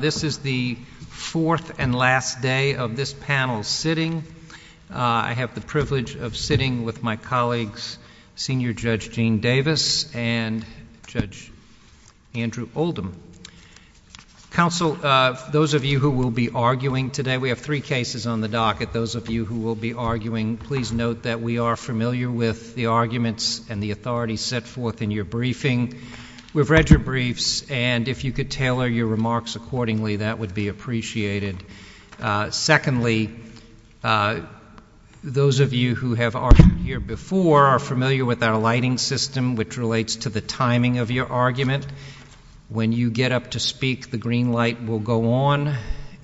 This is the fourth and last day of this panel sitting. I have the privilege of sitting with my colleagues Senior Judge Gene Davis and Judge Andrew Oldham. Council, those of you who will be arguing today, we have three cases on the docket. Those of you who will be arguing, please note that we are familiar with the arguments and the authorities set forth in your briefing. We've read your briefs, and if you could tailor your remarks accordingly, that would be appreciated. Secondly, those of you who have argued here before are familiar with our lighting system, which relates to the timing of your argument. When you get up to speak, the green light will go on,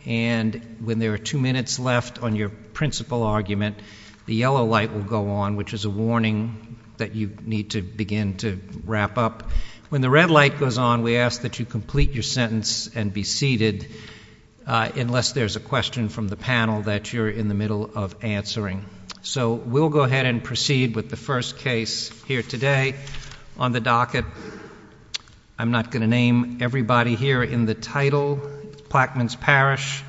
and when there are two minutes left on your principal argument, the yellow light will go on, which is a warning that you need to begin to wrap up. When the red light goes on, we ask that you complete your sentence and be seated, unless there's a question from the panel that you're in the middle of answering. So we'll go ahead and proceed with the first case here today on the docket. I'm not going to name everybody here in the title, Plaquemines Parish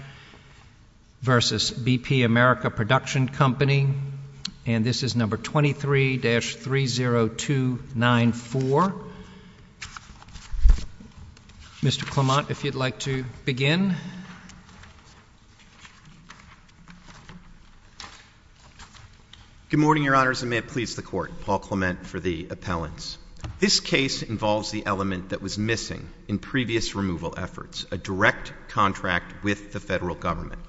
v. BP America Production Company, and this is No. 23-30294. Mr. Clement, if you'd like to begin. Good morning, Your Honors, and may it please the Court. Paul Clement for the appellants. This case involves the element that was missing in previous removal efforts, a direct contract with the Federal Government.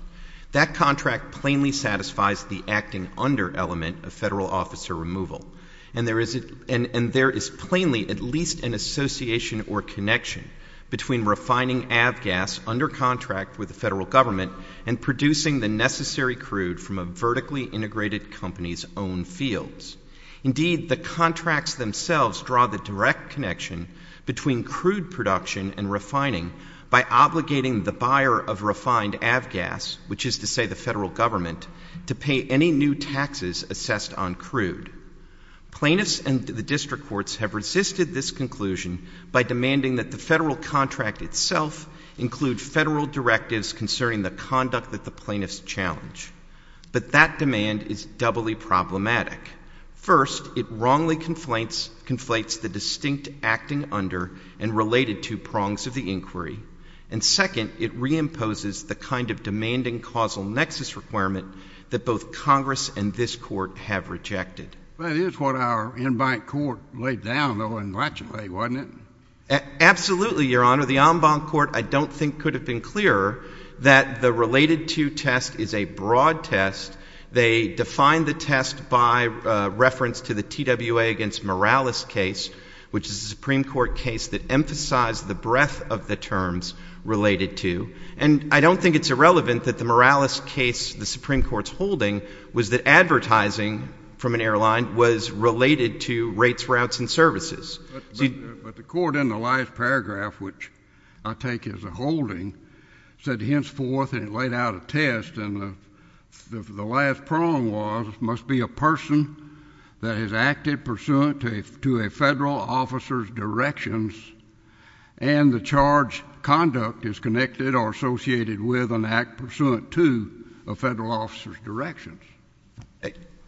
That contract plainly satisfies the acting under element of Federal officer removal, and there is plainly at least an association or connection between refining avgas under contract with the Federal Government and producing the necessary crude from a vertically integrated company's own fields. Indeed, the contracts themselves draw the direct connection between crude production and refining by obligating the buyer of refined avgas, which is to say the Federal Government, to pay any new taxes assessed on crude. Plaintiffs and the district courts have resisted this conclusion by demanding that the Federal contract itself include Federal directives concerning the conduct that the plaintiffs challenge. But that demand is doubly problematic. First, it wrongly conflates the distinct acting under and related to prongs of the inquiry, and second, it reimposes the kind of demanding causal nexus requirement that both Congress and this Court have rejected. Well, it is what our in-bank court laid down, though, in Blatchley, wasn't it? Absolutely, Your Honor. The en-bank court, I don't think, could have been clearer that the related to test is a broad test. They define the test by reference to the TWA against Morales case, which is a Supreme Court case that emphasized the breadth of the terms related to. And I don't think it's irrelevant that the Morales case the Supreme Court's holding was that advertising from an airline was related to rates, routes, and services. But the court in the last paragraph, which I take as a holding, said henceforth, and it laid out a test, and the last prong was, must be a person that has acted pursuant to a Federal officer's directions and the charge conduct is connected or associated with an act pursuant to a Federal officer's directions.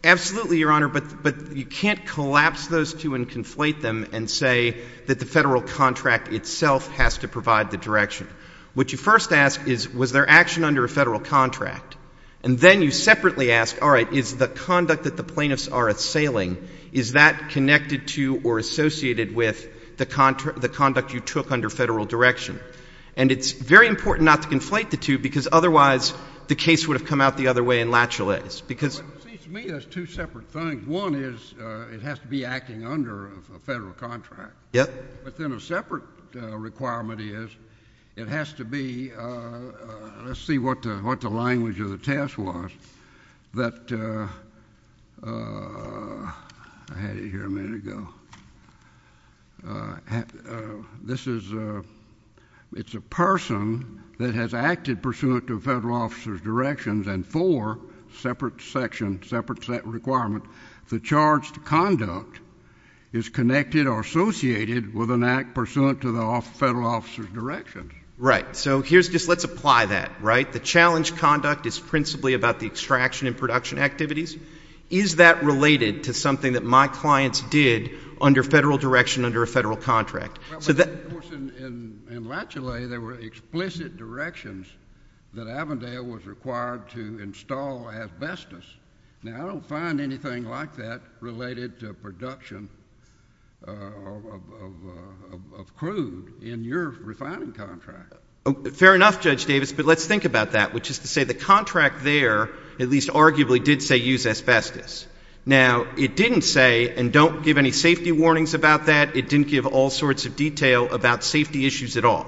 Absolutely, Your Honor, but you can't collapse those two and conflate them and say that the Federal contract itself has to provide the direction. What you first ask is, was there action under a Federal contract? And then you separately ask, all right, is the conduct that the plaintiffs are assailing, is that connected to or associated with the conduct you took under Federal direction? And it's very important not to conflate the two because otherwise the case would have come out the other way in latch-a-lays, because— But it seems to me there's two separate things. One is it has to be acting under a Federal contract. Yep. But then a separate requirement is it has to be—let's see what the language of the test was—that, I had it here a minute ago, this is, it's a person that has acted pursuant to a Federal officer's directions and four separate section, separate requirement, the charged conduct is connected or associated with an act pursuant to the Federal officer's directions. Right. So here's, just let's apply that, right? The challenge conduct is principally about the extraction and production activities. Is that related to something that my clients did under Federal direction under a Federal contract? Well, of course, in latch-a-lay, there were explicit directions that Avondale was required to install asbestos. Now, I don't find anything like that related to production of crude in your refining contract. Fair enough, Judge Davis, but let's think about that, which is to say the contract there at least arguably did say use asbestos. Now, it didn't say, and don't give any safety detail about safety issues at all.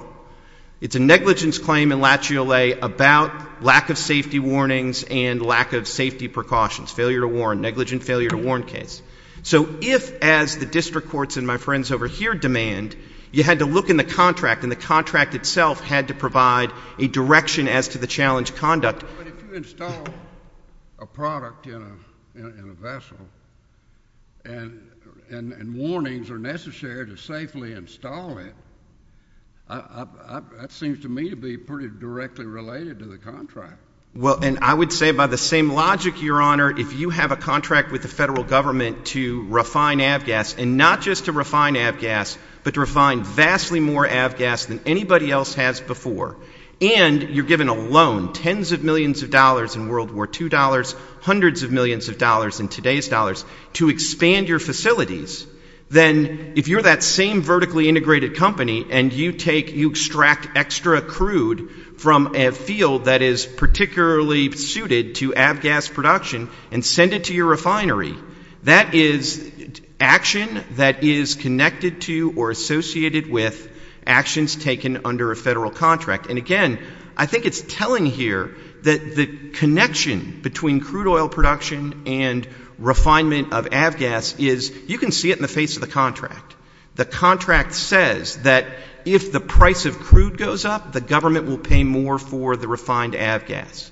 It's a negligence claim in latch-a-lay about lack of safety warnings and lack of safety precautions, failure to warn, negligent failure to warn case. So if, as the district courts and my friends over here demand, you had to look in the contract and the contract itself had to provide a direction as to the challenge conduct. But if you install a product in a vessel and warnings are necessary to safely install it, that seems to me to be pretty directly related to the contract. Well, and I would say by the same logic, Your Honor, if you have a contract with the Federal Government to refine Avgas, and not just to refine Avgas, but to refine vastly more Avgas than anybody else has before, and you're given a loan, tens of millions of dollars in World War II dollars, hundreds of millions of dollars in today's dollars, to expand your facilities, then if you're that same vertically integrated company and you take, you extract extra crude from a field that is particularly suited to Avgas production and send it to your refinery, that is action that is connected to or associated with actions taken under a Federal contract. And again, I think it's telling here that the connection between crude oil production and refinement of Avgas is, you can see it in the face of the contract. The contract says that if the price of crude goes up, the government will pay more for the refined Avgas.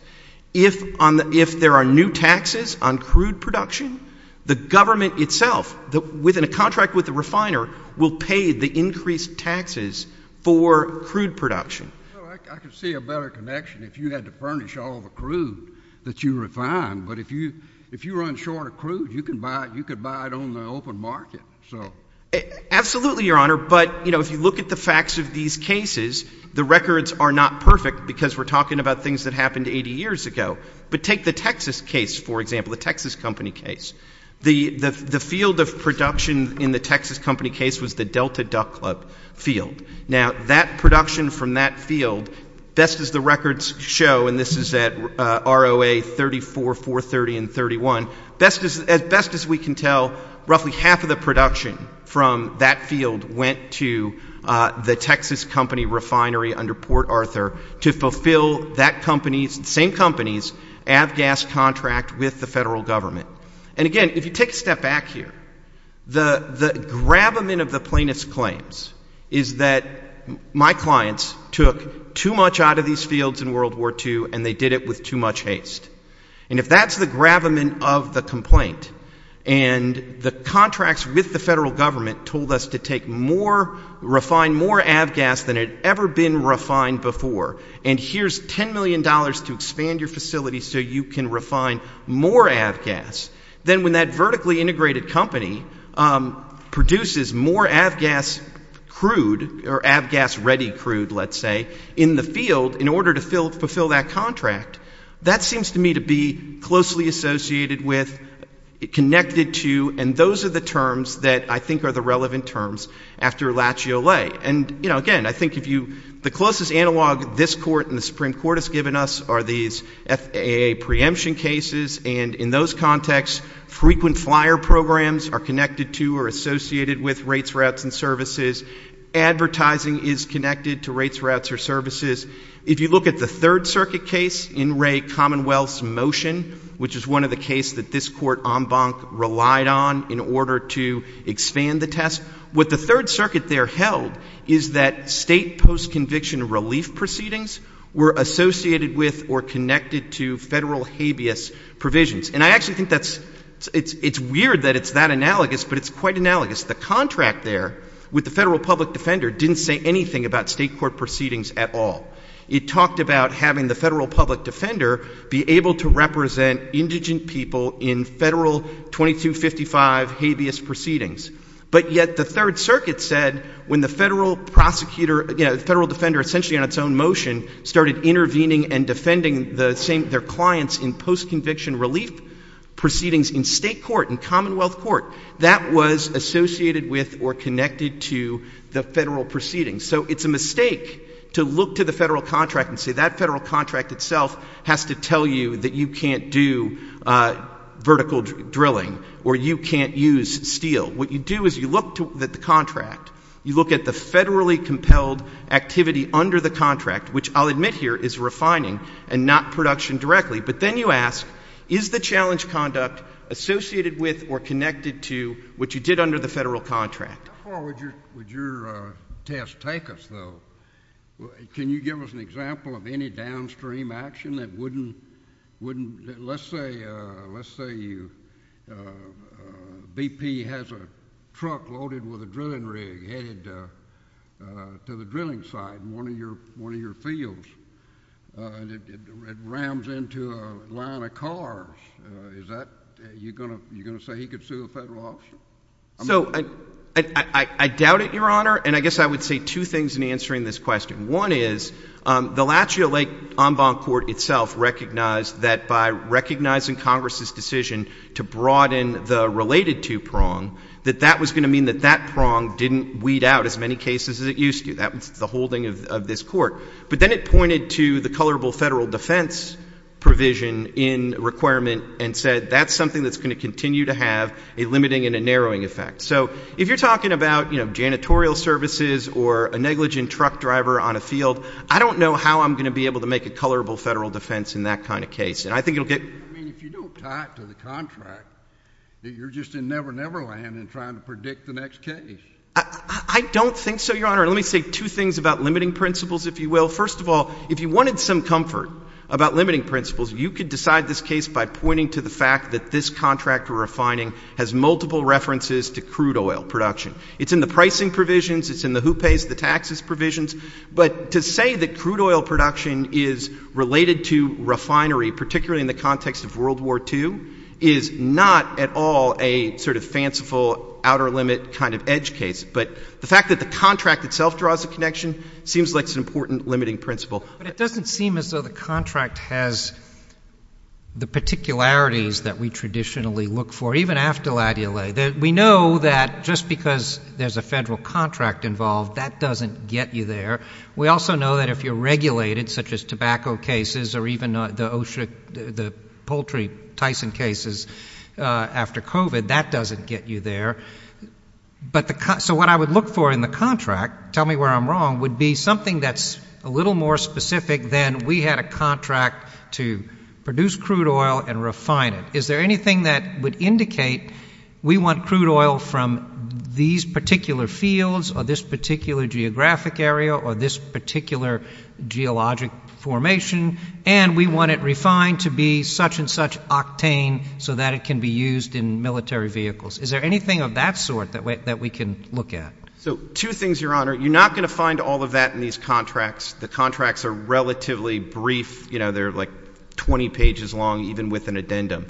If there are new taxes on crude production, the government itself, within a contract with the refiner, will pay the increased taxes for crude production. Well, I could see a better connection if you had to furnish all the crude that you refined. But if you run short of crude, you could buy it on the open market. Absolutely, Your Honor, but if you look at the facts of these cases, the records are not perfect because we're talking about things that happened 80 years ago. But take the Texas case, for example, the Texas Company case. The field of production in the Texas Company case was the Delta Duck Club field. Now, that production from that field, best as the records show, and this is at ROA 34, 430, and 31, best as we can tell, roughly half of the production from that field went to the Texas Company refinery under Port Arthur to fulfill that company's, the same company's, Avgas contract with the federal government. And again, if you take a step back here, the gravamen of the plaintiff's claims is that my clients took too much out of these fields in World War II, and they did it with too much haste. And if that's the gravamen of the complaint, and the contracts with the federal government told us to take more, refine more Avgas than had ever been refined before, and here's $10 million to expand your facility so you can refine more Avgas, then when that Avgas-ready crude, let's say, in the field, in order to fulfill that contract, that seems to me to be closely associated with, connected to, and those are the terms that I think are the relevant terms after Lachie au lait. And, you know, again, I think if you, the closest analog this Court and the Supreme Court has given us are these FAA preemption cases, and in those contexts, frequent flyer programs are connected to or associated with rates, routes, and services. Advertising is connected to rates, routes, or services. If you look at the Third Circuit case in Ray Commonwealth's motion, which is one of the cases that this Court en banc relied on in order to expand the test, what the Third Circuit there held is that state post-conviction relief proceedings were associated with or connected to federal habeas provisions. And I actually think that's, it's weird that it's that analogous, but it's quite analogous. The contract there with the federal public defender didn't say anything about state court proceedings at all. It talked about having the federal public defender be able to represent indigent people in federal 2255 habeas proceedings. But yet the Third Circuit said when the federal prosecutor, you know, the federal defender essentially on its own motion started intervening and defending the same, their clients in post-conviction relief proceedings in state court, in Commonwealth court, that was associated with or connected to the federal proceedings. So it's a mistake to look to the federal contract and say that federal contract itself has to tell you that you can't do vertical drilling or you can't use steel. What you do is you look at the contract. You look at the federally compelled activity under the contract, which I'll admit here is refining and not production directly. But then you ask, is the challenge conduct associated with or connected to what you did under the federal contract? How far would your test take us, though? Can you give us an example of any downstream action that wouldn't, wouldn't, let's say, let's say you, BP has a truck loaded with a drilling rig headed to the drilling site in one of your, one of your fields. And it rams into a line of cars. Is that, you're going to, you're going to say he could sue a federal officer? So, I, I, I doubt it, Your Honor. And I guess I would say two things in answering this question. One is, the Lachia Lake En Bonne Court itself recognized that by recognizing Congress's decision to broaden the related two-prong, that that was going to mean that that prong didn't weed out as many cases as it used to. That was the holding of, of this court. But then it pointed to the colorable federal defense provision in requirement and said, that's something that's going to continue to have a limiting and a narrowing effect. So, if you're talking about, you know, janitorial services or a negligent truck driver on a field, I don't know how I'm going to be able to make a colorable federal defense in that kind of case. And I think it'll get I mean, if you don't tie it to the contract, that you're just in never-never land in trying to predict the next case. I, I don't think so, Your Honor. And let me say two things about limiting principles, if you will. First of all, if you wanted some comfort about limiting principles, you could decide this case by pointing to the fact that this contract we're refining has multiple references to crude oil production. It's in the pricing provisions. It's in the who pays the taxes provisions. But to say that crude oil production is related to refinery, particularly in the context of World War II, is not at all a sort of fanciful outer limit kind of important limiting principle. But it doesn't seem as though the contract has the particularities that we traditionally look for, even after Latty-O-Lay. We know that just because there's a federal contract involved, that doesn't get you there. We also know that if you're regulated, such as tobacco cases or even the OSHA, the poultry Tyson cases after COVID, that doesn't get you there. But the, so what I would look for in the contract, tell me where I'm wrong, would be something that's a little more specific than we had a contract to produce crude oil and refine it. Is there anything that would indicate we want crude oil from these particular fields or this particular geographic area or this particular geologic formation, and we want it refined to be such and such octane so that it can be used in military vehicles? Is there anything of that sort that we can look at? So two things, Your Honor, you're not going to find all of that in these contracts. The contracts are relatively brief. You know, they're like 20 pages long, even with an addendum.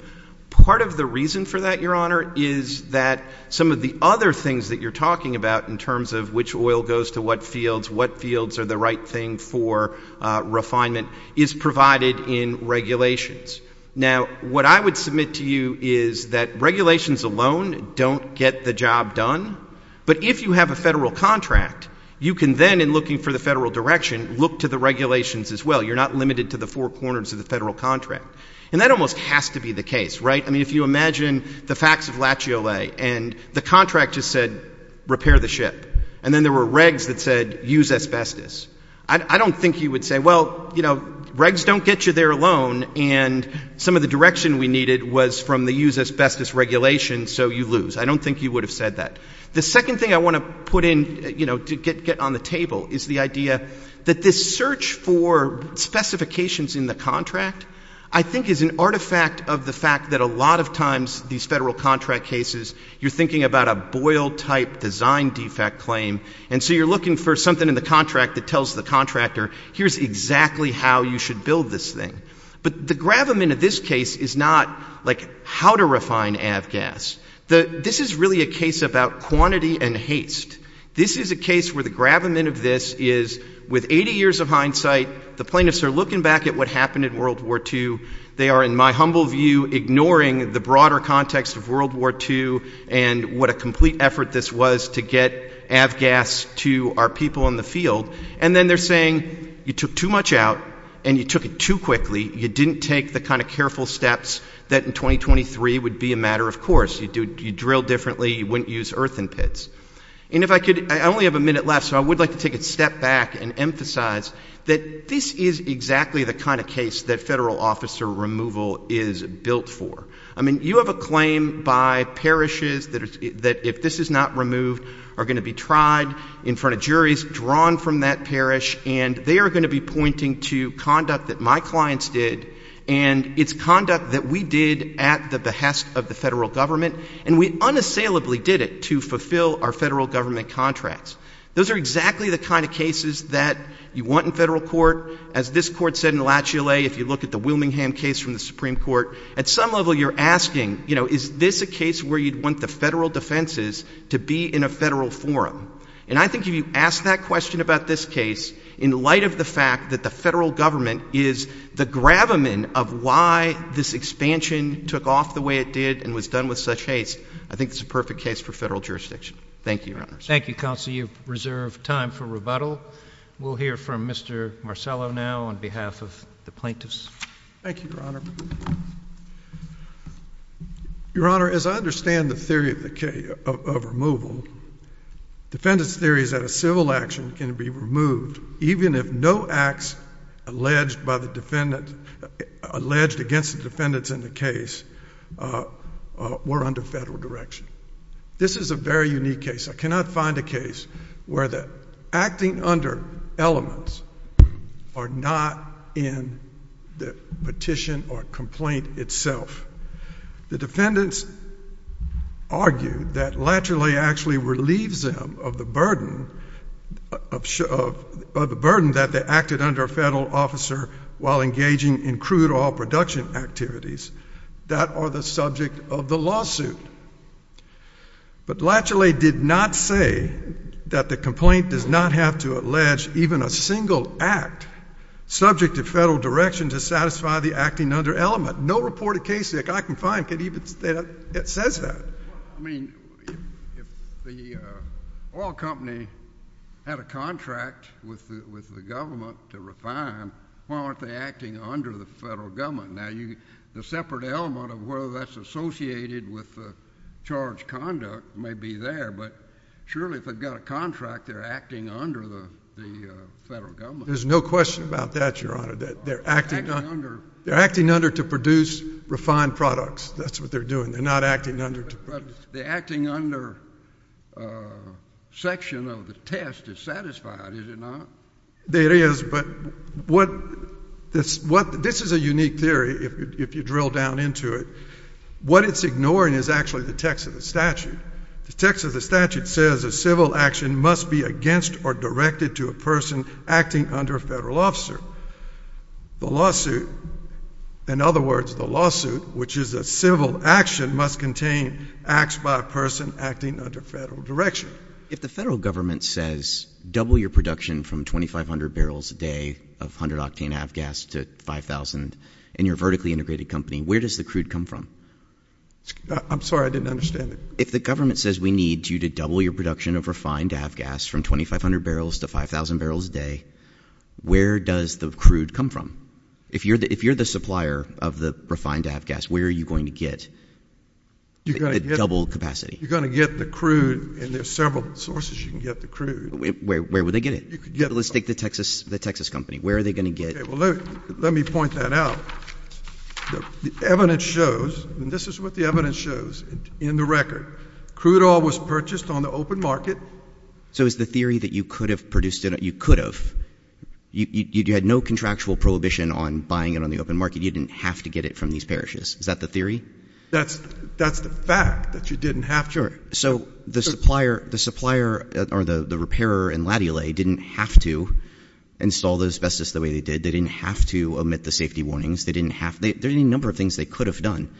Part of the reason for that, Your Honor, is that some of the other things that you're talking about in terms of which oil goes to what fields, what fields are the right thing for refinement is provided in regulations. Now, what I would submit to you is that regulations alone don't get the job done. But if you have a federal contract, you can then, in looking for the federal direction, look to the regulations as well. You're not limited to the four corners of the federal contract. And that almost has to be the case, right? I mean, if you imagine the facts of Lachiole, and the contract just said, repair the ship. And then there were regs that said, use asbestos. I don't think you would say, well, you know, regs don't get you there alone. And some of the direction we needed was from the use asbestos regulation, so you lose. I don't think you would have said that. The second thing I want to put in, you know, to get on the table is the idea that this search for specifications in the contract, I think, is an artifact of the fact that a lot of times, these federal contract cases, you're thinking about a boil-type design defect claim. And so you're looking for something in the contract that tells the contractor, here's exactly how you should build this thing. But the gravamen of this case is not, like, how to refine avgas. This is really a case about quantity and haste. This is a case where the gravamen of this is, with 80 years of hindsight, the plaintiffs are looking back at what happened in World War II. They are, in my humble view, ignoring the broader context of World War II, and what a complete effort this was to get avgas to our people in the field. And then they're saying, you took too much out, and you took it too quickly. You didn't take the kind of careful steps that in 2023 would be a matter of course. You'd drill differently. You wouldn't use earthen pits. And if I could, I only have a minute left, so I would like to take a step back and emphasize that this is exactly the kind of case that federal officer removal is built for. I mean, you have a claim by parishes that if this is not removed, are going to be tried in front of juries, drawn from that parish, and they are going to be pointing to conduct that my clients did, and it's conduct that we did at the behest of the federal government, and we unassailably did it to fulfill our federal government contracts. Those are exactly the kind of cases that you want in federal court. As this court said in Lachule, if you look at the Wilmingham case from the Supreme Court, at some level you're asking, you know, is this a case where you'd want the federal defenses to be in a federal forum? And I think if you ask that question about this case, in light of the fact that the federal government is the gravamen of why this expansion took off the way it did and was done with such haste, I think it's a perfect case for federal jurisdiction. Thank you, Your Honor. Thank you, Counsel. You have reserved time for rebuttal. We'll hear from Mr. Marcello now on behalf of the plaintiffs. Thank you, Your Honor. Your Honor, as I understand the theory of removal, defendant's theory is that a civil action can be removed even if no acts alleged against the defendants in the case were under federal direction. This is a very unique case. I cannot find a case where the acting under elements are not in the petition or complaint itself. The burden that they acted under a federal officer while engaging in crude oil production activities, that are the subject of the lawsuit. But Latchley did not say that the complaint does not have to allege even a single act subject to federal direction to satisfy the acting under element. No reported case that I can find can even say that it says that. I mean, if the oil company had a contract with the government to refine, why aren't they acting under the federal government? Now, the separate element of whether that's associated with the charge conduct may be there, but surely if they've got a contract, they're acting under the federal government. There's no question about that, Your Honor. They're acting under to produce refined products. That's what they're doing. They're not acting under to produce. The acting under section of the test is satisfied, is it not? It is, but this is a unique theory if you drill down into it. What it's ignoring is actually the text of the statute. The text of the statute says a civil action must be against or directed to a person acting under a federal officer. The lawsuit, in other words, the lawsuit, which is a civil action, must contain acts by a person acting under federal direction. If the federal government says double your production from 2,500 barrels a day of 100 octane avgas to 5,000 in your vertically integrated company, where does the crude come from? I'm sorry. I didn't understand it. If the government says we need you to double your production of refined avgas from 2,500 barrels to 5,000 barrels a day, where does the crude come from? If you're the supplier of the refined avgas, where are you going to get the double capacity? You're going to get the crude, and there are several sources you can get the crude. Where would they get it? Let's take the Texas company. Where are they going to get it? Let me point that out. The evidence shows, and this is what the evidence shows in the record, crude oil was purchased on the open market. So it's the theory that you could have produced it. You could have. You had no contractual prohibition on buying it on the open market. You didn't have to get it from these parishes. Is that the theory? That's the fact, that you didn't have to. So the supplier, or the repairer in Latte Alley, didn't have to install the asbestos the way they did. They didn't have to omit the safety warnings. There are any number of things they could have done.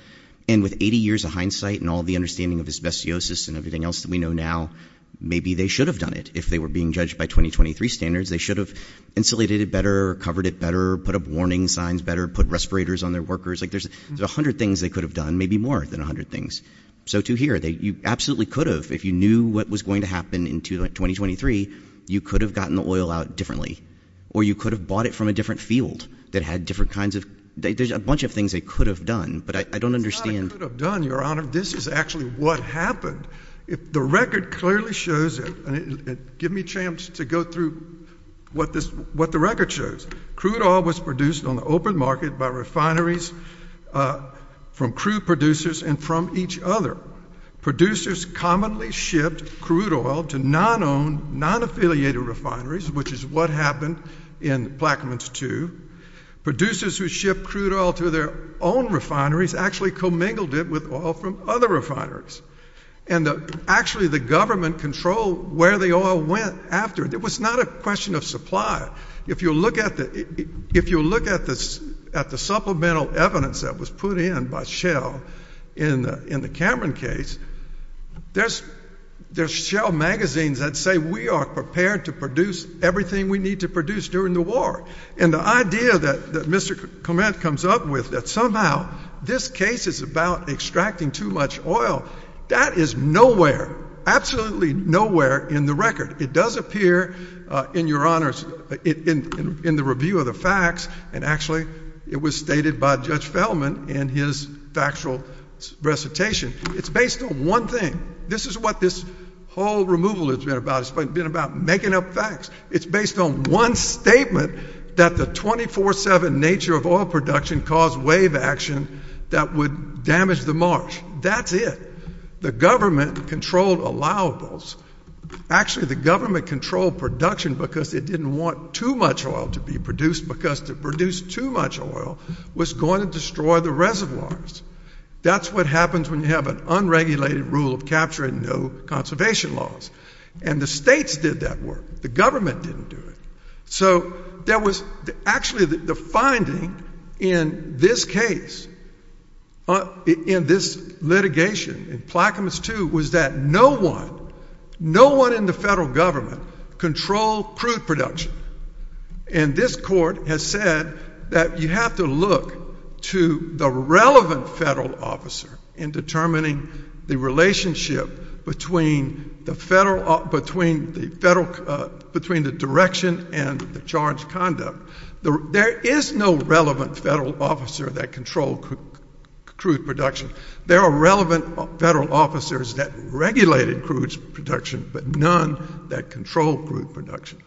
And with 80 years of hindsight and all the understanding of asbestosis and everything else that we know now, maybe they should have done it. If they were being judged by 2023 standards, they should have insulated it better, covered it better, put up warning signs better, put respirators on their workers. There's a hundred things they could have done, maybe more than a hundred things. So to hear that you absolutely could have, if you knew what was going to happen in 2023, you could have gotten the oil out differently. Or you could have bought it from a different field that had different kinds of, there's a bunch of things they could have done, but I don't understand. It's not a could have done, Your Honor. This is actually what happened. The record clearly shows it. Give me a chance to go through what the record shows. Crude oil was produced on the open market by refineries from crude producers and from each other. Producers commonly shipped crude oil to non-owned, non-affiliated refineries, which is what happened in Plaquemines II. Producers who shipped crude oil to their own refineries actually commingled it with other refineries. And actually the government controlled where the oil went after. It was not a question of supply. If you look at the supplemental evidence that was put in by Shell in the Cameron case, there's Shell magazines that say we are prepared to produce everything we need to produce during the war. And the idea that Mr. Clement comes up with that somehow this case is about extracting too much oil, that is nowhere, absolutely nowhere in the record. It does appear in Your Honor's, in the review of the facts, and actually it was stated by Judge Fellman in his factual recitation. It's based on one thing. This is what this whole removal has been about. It's been about making up facts. It's based on one statement that the 24-7 nature of oil production caused wave action that would damage the marsh. That's it. The government controlled allowables. Actually the government controlled production because it didn't want too much oil to be produced because to produce too much oil was going to destroy the reservoirs. That's what happens when you have an unregulated rule of capture and no conservation laws. And the states did that work. The government didn't do it. So there was actually the finding in this case, in this litigation, in Plaquemines 2, was that no one, no one in the federal government controlled crude production. And this court has said that you have to look to the relevant federal officer in determining the relationship between the direction and the charge conduct. There is no relevant federal officer that controlled crude production. There are relevant federal officers that regulated crude production, but none that controlled crude production.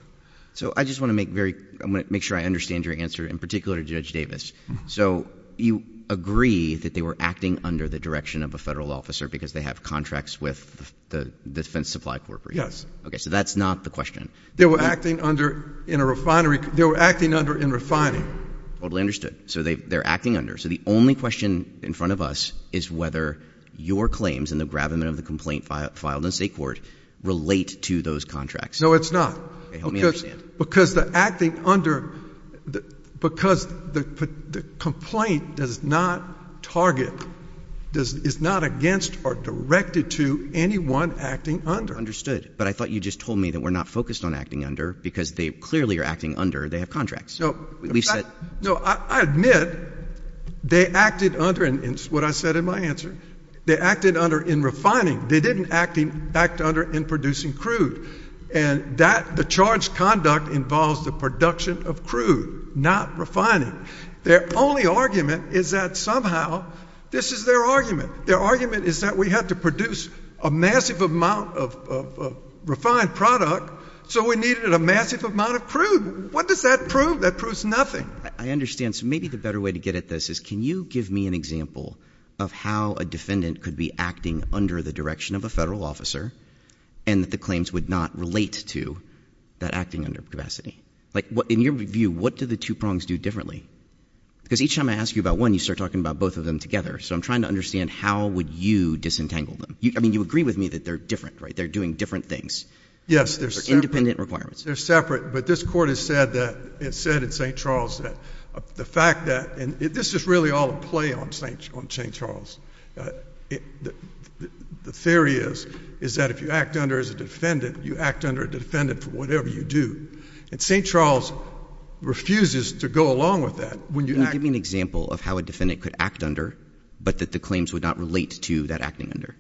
So I just want to make sure I understand your answer, in particular Judge Davis. So you agree that they were acting under the direction of a federal officer because they have contracts with the Defense Supply Corp. Yes. Okay, so that's not the question. They were acting under, in a refinery, they were acting under in refining. Totally understood. So they're acting under. So the only question in front of us is whether your claims and the gravamen of the complaint filed in state court relate to those contracts. No, it's not. Okay, help me. It's not target. It's not against or directed to anyone acting under. Understood. But I thought you just told me that we're not focused on acting under because they clearly are acting under, they have contracts. No, I admit they acted under, and it's what I said in my answer, they acted under in refining. They didn't act under in producing crude. And that, the charge conduct involves the fact that somehow, this is their argument. Their argument is that we have to produce a massive amount of refined product so we needed a massive amount of crude. What does that prove? That proves nothing. I understand. So maybe the better way to get at this is can you give me an example of how a defendant could be acting under the direction of a federal officer and that the claims would not relate to that acting under capacity? Like in your view, what do the two prongs do differently? Because each time I ask you about one, you start talking about both of them together. So I'm trying to understand how would you disentangle them? I mean, you agree with me that they're different, right? They're doing different things. Yes, they're separate. They're independent requirements. They're separate. But this Court has said that, it said in St. Charles that the fact that, and this is really all a play on St. Charles. The theory is, is that if you act under as a defendant, you act under a defendant for whatever you do. And St. Charles refuses to go along with that. Can you give me an example of how a defendant could act under, but that the claims would not relate to that acting under?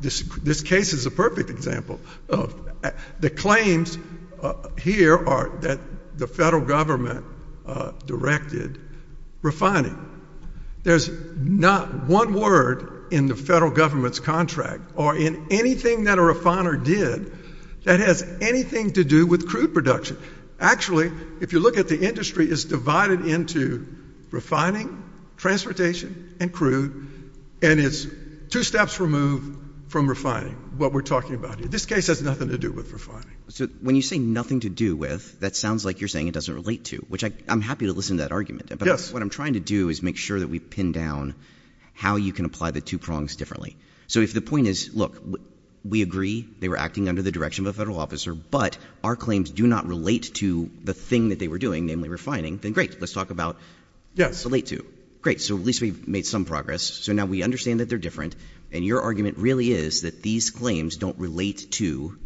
This case is a perfect example. The claims here are that the federal government directed refining. There's not one word in the federal government's contract or in anything that a refiner did that has anything to do with refining. It's divided into refining, transportation, and crude. And it's two steps removed from refining, what we're talking about here. This case has nothing to do with refining. So when you say nothing to do with, that sounds like you're saying it doesn't relate to, which I'm happy to listen to that argument. But what I'm trying to do is make sure that we pin down how you can apply the two prongs differently. So if the point is, look, we agree they were acting under the direction of a federal officer, but our claims do not relate to what they were doing, namely refining, then great. Let's talk about relate to. Great. So at least we've made some progress. So now we understand that they're different. And your argument really is that these claims don't relate to,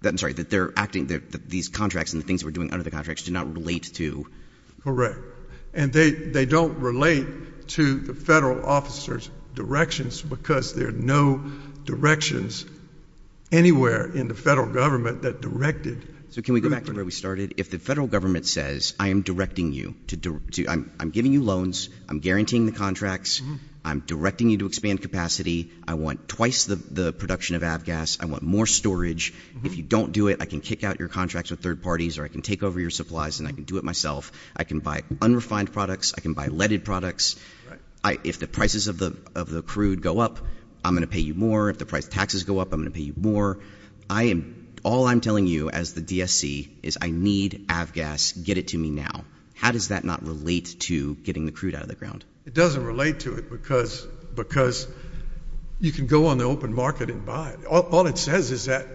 that I'm sorry, that they're acting, that these contracts and the things we're doing under the contracts do not relate to. Correct. And they don't relate to the federal officer's directions because there are no directions anywhere in the federal government that directed. So can we go back to where we started? If the federal government says, I am directing you to do, I'm giving you loans, I'm guaranteeing the contracts, I'm directing you to expand capacity. I want twice the production of ABGAS. I want more storage. If you don't do it, I can kick out your contracts with third parties or I can take over your supplies and I can do it myself. I can buy unrefined products. I can buy leaded products. If the prices of the crude go up, I'm going to pay you more. If the price taxes go up, I'm going to pay you more. I am, all I'm telling you as the ABGAS, get it to me now. How does that not relate to getting the crude out of the ground? It doesn't relate to it because you can go on the open market and buy it. All it says is that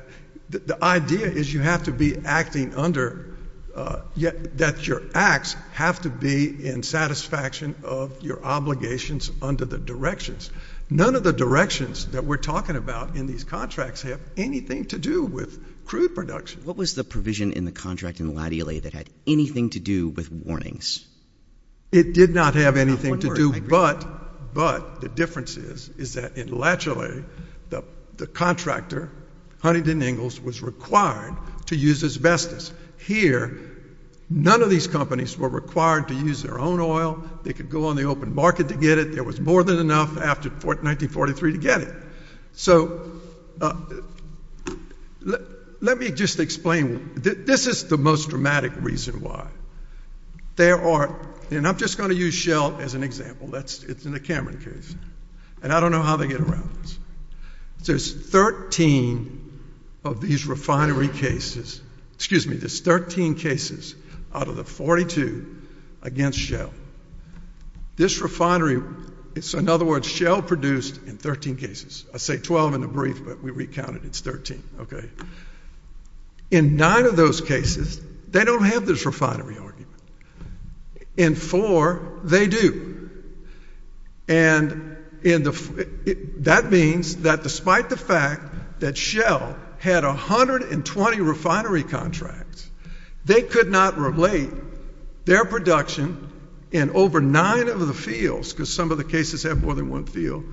the idea is you have to be acting under, that your acts have to be in satisfaction of your obligations under the directions. None of the directions that we're talking about in these contracts have anything to do with crude production. What was the provision in the contract in Latula that had anything to do with warnings? It did not have anything to do, but the difference is that in Latula, the contractor, Huntington Ingalls, was required to use asbestos. Here, none of these companies were required to use their own oil. They could go on the open market to get it. There was more than enough after 1943 to get it. Let me just explain. This is the most dramatic reason why. I'm just going to use Shell as an example. It's in the Cameron case, and I don't know how they get around this. There's 13 of these refinery cases, excuse me, there's 13 cases out of the 42 against Shell. This refinery, in other words, Shell produced in 13 cases. I say 12 in the brief, but we recounted it's 13. In 9 of those cases, they don't have this refinery argument. In 4, they do. That means that despite the fact that Shell had 120 refinery contracts, they could not relate their production in over 9 of the fields, because some of the cases have more than one field,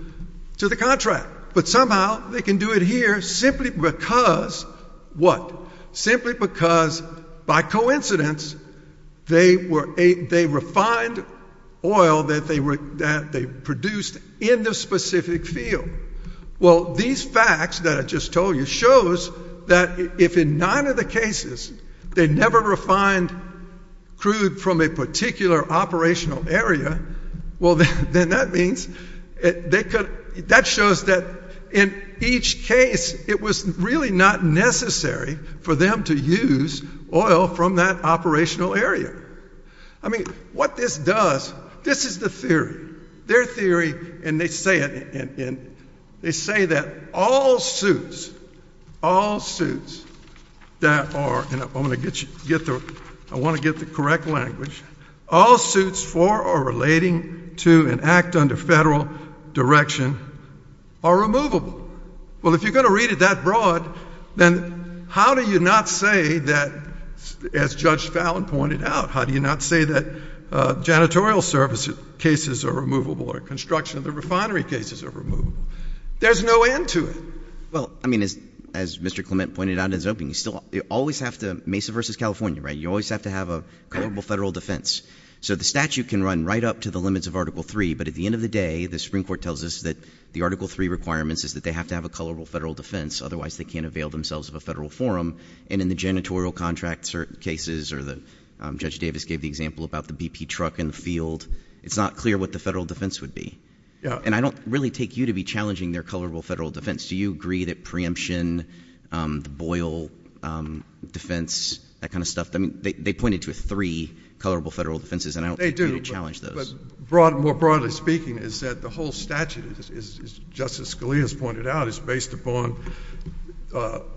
to the contract. But somehow, they can do it here simply because, what? Simply because by coincidence, they refined oil that they produced in this specific field. Well, these facts that I just told you shows that if in 9 of the cases, they never refined crude from a particular operational area, well, then that means, that shows that in each case, it was really not necessary for them to use oil from that operational area. I mean, what this does, this is the theory. Their theory, and they say it, and they say that all suits, all suits that are, and I want to get the correct language, all suits for or relating to an act under federal direction are removable. Well, if you're going to read it that broad, then how do you not say that, as Judge Fallon pointed out, how do you not say that janitorial service cases are removable, or construction of the refinery cases are removable? There's no end to it. Well, I mean, as Mr. Clement pointed out in his opening, you still always have to, Mesa versus California, right? You always have to have a colorable federal defense. So the statute can run right up to the limits of Article 3, but at the end of the day, the Supreme Court tells us that the Article 3 requirements is that they have to have a colorable federal defense. Otherwise, they can't avail themselves of a federal forum, and in the janitorial contract cases, or Judge Davis gave the example about the BP truck in the field, it's not clear what the federal defense would be. And I don't really take you to be challenging their colorable federal defense. Do you agree that preemption, the Boyle defense, that kind of stuff, they pointed to three colorable federal defenses, and I don't think you challenge those. They do, but more broadly speaking, is that the whole statute, as Justice Scalia has pointed out, is based upon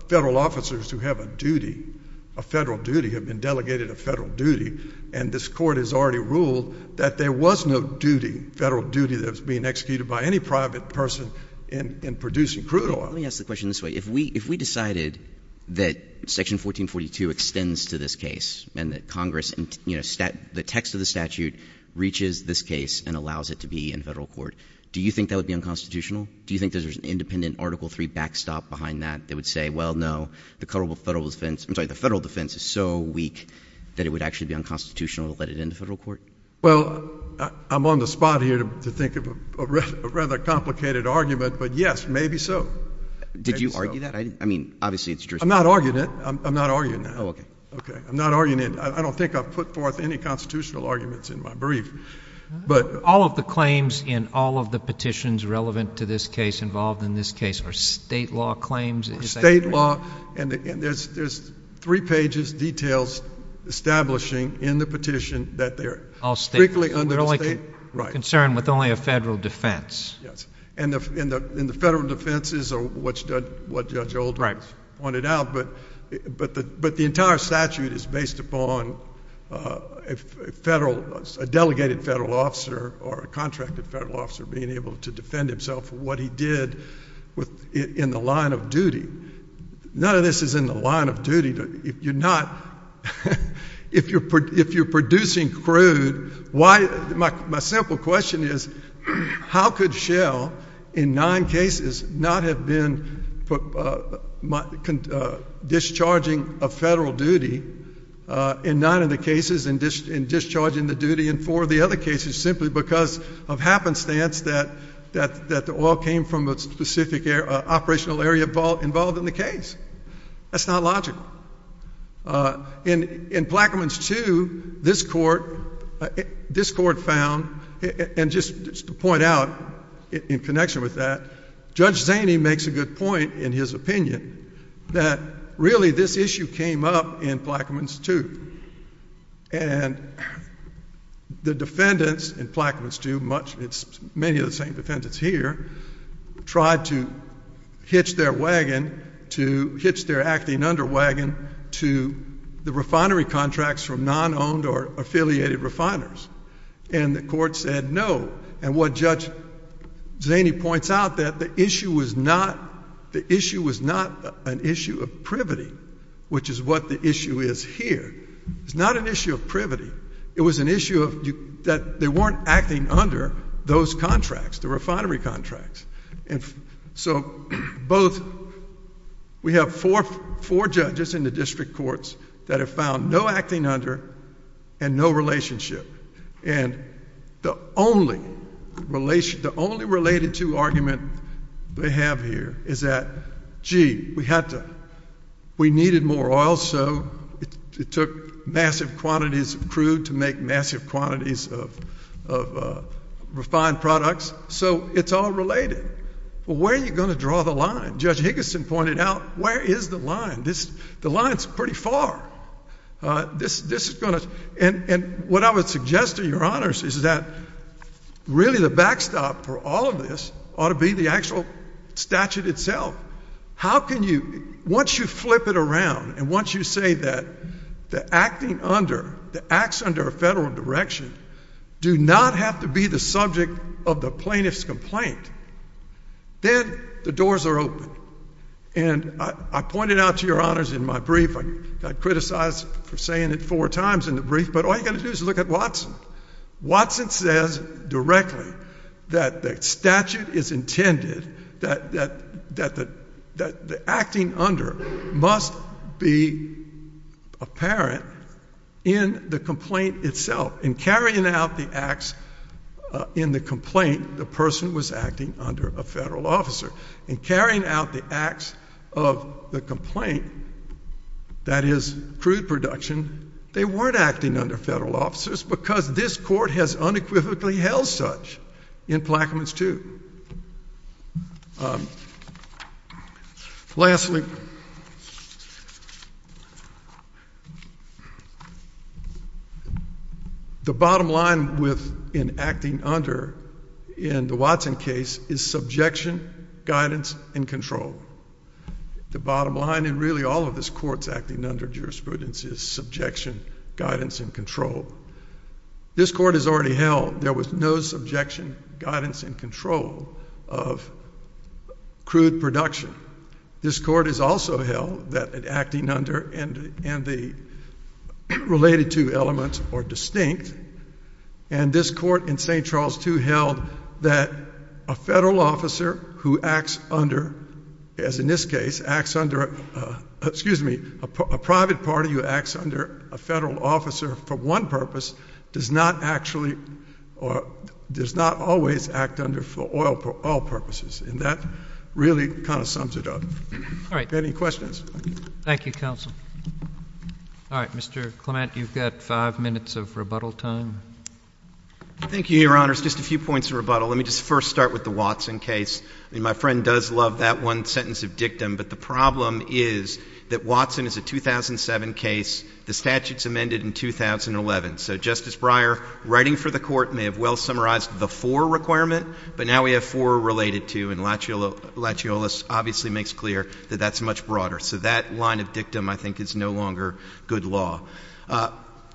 federal officers who have a duty, a federal duty, have been delegated a federal duty, and this Court has already ruled that there was no duty, federal duty, that was being executed by any private person in producing crude oil. Let me ask the question this way. If we decided that Section 1442 extends to this case, and that Congress, you know, the text of the statute reaches this point, that it would be in federal court, do you think that would be unconstitutional? Do you think there's an independent Article III backstop behind that that would say, well, no, the colorable federal defense, I'm sorry, the federal defense is so weak that it would actually be unconstitutional to let it into federal court? Well, I'm on the spot here to think of a rather complicated argument, but yes, maybe so. Did you argue that? I mean, obviously, it's jurisdiction. I'm not arguing it. I'm not arguing it. Oh, okay. Okay. I'm not arguing it. I don't think I've put forth any constitutional arguments in my brief, but... All of the claims in all of the petitions relevant to this case, involved in this case, are state law claims. Is that correct? State law, and there's three pages, details, establishing in the petition that they're strictly under the state... All state. We're only concerned with only a federal defense. Yes. And the federal defenses are what Judge Oldham pointed out, but the entire statute is based upon a federal, a delegated federal officer, or a contracted federal officer being able to defend himself for what he did in the line of duty. None of this is in the line of duty. If you're producing crude, my simple question is, how could Shell, in nine cases, not have been discharging a federal duty, in nine of the cases, in discharging the duty in four of the other cases, simply because of happenstance that the oil came from a specific operational area involved in the case? That's not logical. In Plaquemines 2, this court found, and just to point out in connection with that, Judge Zaney makes a good point in his opinion, that really this issue came up in Plaquemines 2. And the defendants in Plaquemines 2, many of the same defendants here, tried to hitch their wagon, to hitch their acting under wagon, to the refinery contracts from non-owned or affiliated refiners. And the court said no. And what Judge Zaney points out, that the issue was not an issue of privity, which is what the issue is here. It's not an issue of privity. It was an issue that they weren't acting under those contracts, the refinery contracts. And so both, we have four judges in the district courts that have found no acting under and no relationship. And the only related to argument they have here is that gee, we needed more oil, so it took massive quantities of crude to make massive quantities of refined products. So it's all related. Well, where are you going to draw the line? Judge Higginson pointed out, where is the line? The line is pretty far. This is going to, and what I would suggest to your honors is that really the backstop for all of this ought to be the actual statute itself. How can you, once you flip it around, and once you say that the acting under, the acts under a federal direction, do not have to be the subject of the plaintiff's complaint, then the doors are open. And I pointed out to your honors in my brief, I got criticized for saying it four times in the brief, but all you've got to do is look at Watson. Watson says directly that the statute is intended, that the acting under must be apparent in the complaint itself. In carrying out the acts in the complaint, the person was acting under a federal officer. In carrying out the acts of the complaint, that is crude production, they weren't acting under federal officers because this court has unequivocally held such in Plaquemines 2. Lastly, the bottom line in acting under in the Watson case is subjection, guidance, and control. The bottom line in really all of this court's acting under jurisprudence is subjection, guidance, and control. This court has already held there was no subjection, guidance, and control of crude production. This court has also held that acting under and the related to elements are distinct, and this court in St. Charles 2 held that a federal officer who acts under, as in this case, acts under, excuse me, a private party who acts under a federal officer for one purpose does not actually or does not always act under for all purposes. And that really kind of sums it up. All right. Any questions? Thank you, counsel. All right. Mr. Clement, you've got 5 minutes of rebuttal time. Thank you, Your Honors. Just a few points of rebuttal. Let me just first start with the Watson case. I mean, my friend does love that one sentence of dictum, but the problem is that Watson is a 2007 case. The statute's amended in 2011. So Justice Breyer, writing for the court, may have well summarized the for requirement, but now we have for related to, and Lachiolas obviously makes clear that that's much broader. So that line of dictum, I think, is no longer good law.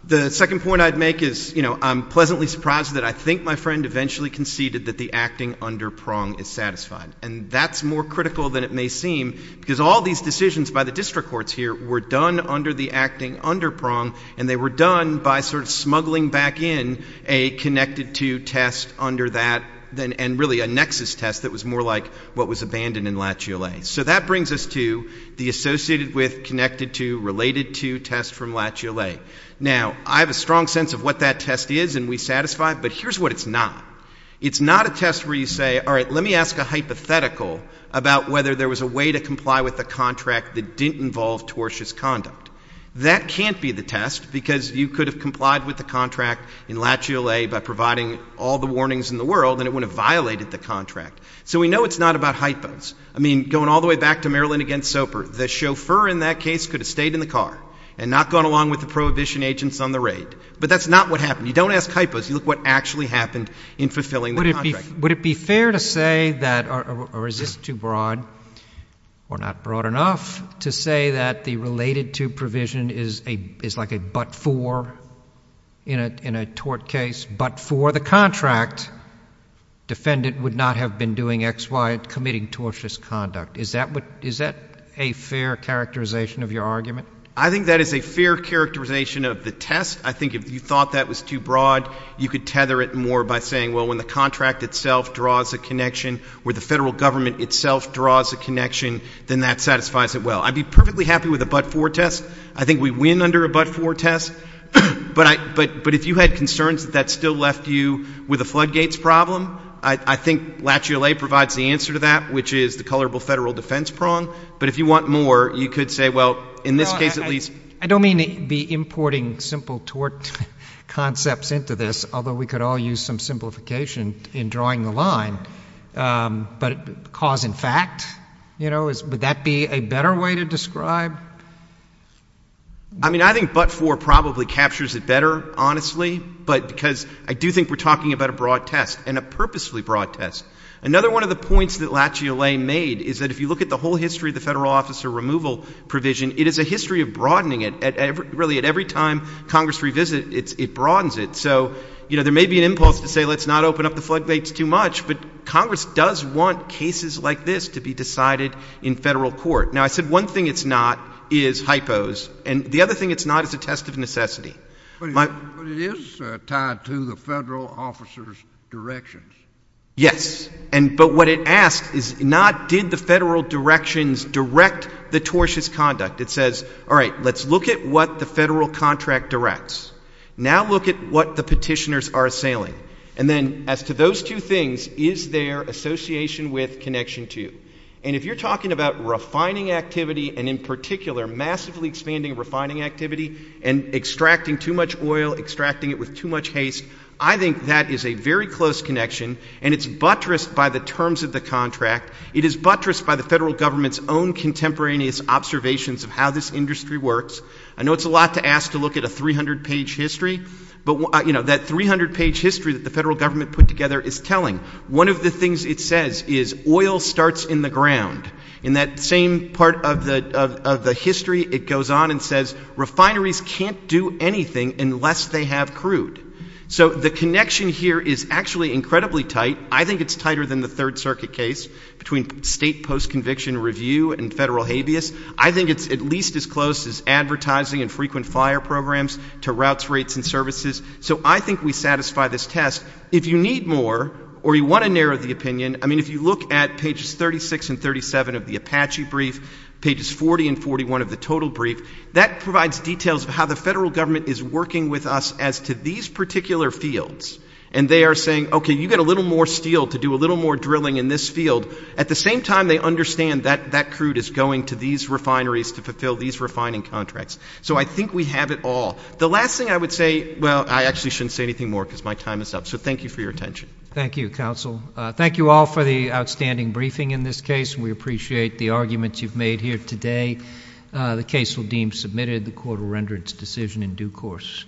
The second point I'd make is, you know, I'm pleasantly surprised that I think my friend eventually conceded that the acting under prong is satisfied. And that's more critical than it may seem, because all these decisions by the district courts here were done under the acting under prong, and they were done by sort of smuggling back in a connected to test under that, and really a nexus test that was more like what was abandoned in Lachiolas. So that brings us to the associated with, connected to, related to test from Lachiolas. Now I have a strong sense of what that test is, and we satisfy it, but here's what it's not. It's not a test where you say, all right, let me ask a hypothetical about whether there was a way to comply with the contract that didn't involve tortious conduct. That can't be the test, because you could have complied with the contract in Lachiolas by providing all the warnings in the world, and it would have violated the contract. So we know it's not about hypos. I mean, going all the way back to Maryland against Soper, the chauffeur in that case could have stayed in the car and not gone along with the prohibition agents on the raid. But that's not what happened. You don't ask hypos. You look what actually happened in fulfilling the contract. Would it be fair to say that, or is this too broad, or not broad enough, to say that the related to provision is like a but for in a tort case, but for the contract, defendant would not have been doing X, Y, committing tortious conduct. Is that a fair characterization of your argument? I think that is a fair characterization of the test. I think if you thought that was too broad, you could tether it more by saying, well, when the contract itself draws a connection, where the federal government itself draws a connection, then that satisfies it well. I'd be perfectly happy with a but for test. I think we win under a but for test. But if you had concerns that that still left you with a floodgates problem, I think Lachiolas provides the answer to that, which is the colorable federal defense prong. But if you want more, you could say, well, in this case at least I don't mean the importing simple tort concepts into this, although we could all use some simplification in drawing the line. But cause and fact, you know, would that be a better way to describe? I mean, I think but for probably captures it better, honestly. But because I do think we're talking about a broad test, and a purposefully broad test. Another one of the points that Lachiolas made is that if you look at the whole history of the federal officer removal provision, it is a history of broadening it. Really, at every time Congress revisits, it broadens it. So, you know, there may be an impulse to say let's not open up the floodgates too much, but Congress does want cases like this to be decided in federal court. Now, I said one thing it's not is hypos, and the other thing it's not is a test of necessity. But it is tied to the federal officer's directions. Yes. And but what it asks is not did the federal directions direct the tortious conduct. It says, all right, let's look at what the federal contract directs. Now look at what the petitioners are assailing. And then as to those two things, is there association with connection to? And if you're talking about refining activity, and in particular, massively expanding refining activity, and extracting too much oil, extracting it with too much haste, I think that is a very close connection. And it's buttressed by the terms of the contract. It is buttressed by the federal government's own contemporaneous observations of how this industry works. I know it's a lot to ask to look at a 300-page history. But, you know, that 300-page history that the federal government put together is telling. One of the things it says is oil starts in the ground. In that same part of the history, it goes on and says refineries can't do anything unless they have crude. So the connection here is actually incredibly tight. I think it's tighter than the Third Circuit case between state post-conviction review and federal habeas. I think it's at least as close as advertising and frequent fire programs to routes, rates, and services. So I think we satisfy this test. If you need more or you want to narrow the opinion, I mean, if you look at pages 36 and 37 of the working with us as to these particular fields, and they are saying, okay, you get a little more steel to do a little more drilling in this field, at the same time they understand that that crude is going to these refineries to fulfill these refining contracts. So I think we have it all. The last thing I would say well, I actually shouldn't say anything more because my time is up. So thank you for your attention. Thank you, counsel. Thank you all for the outstanding briefing in this case. We appreciate the arguments you've made here today. The case will deem submitted. The court will render its decision in due course.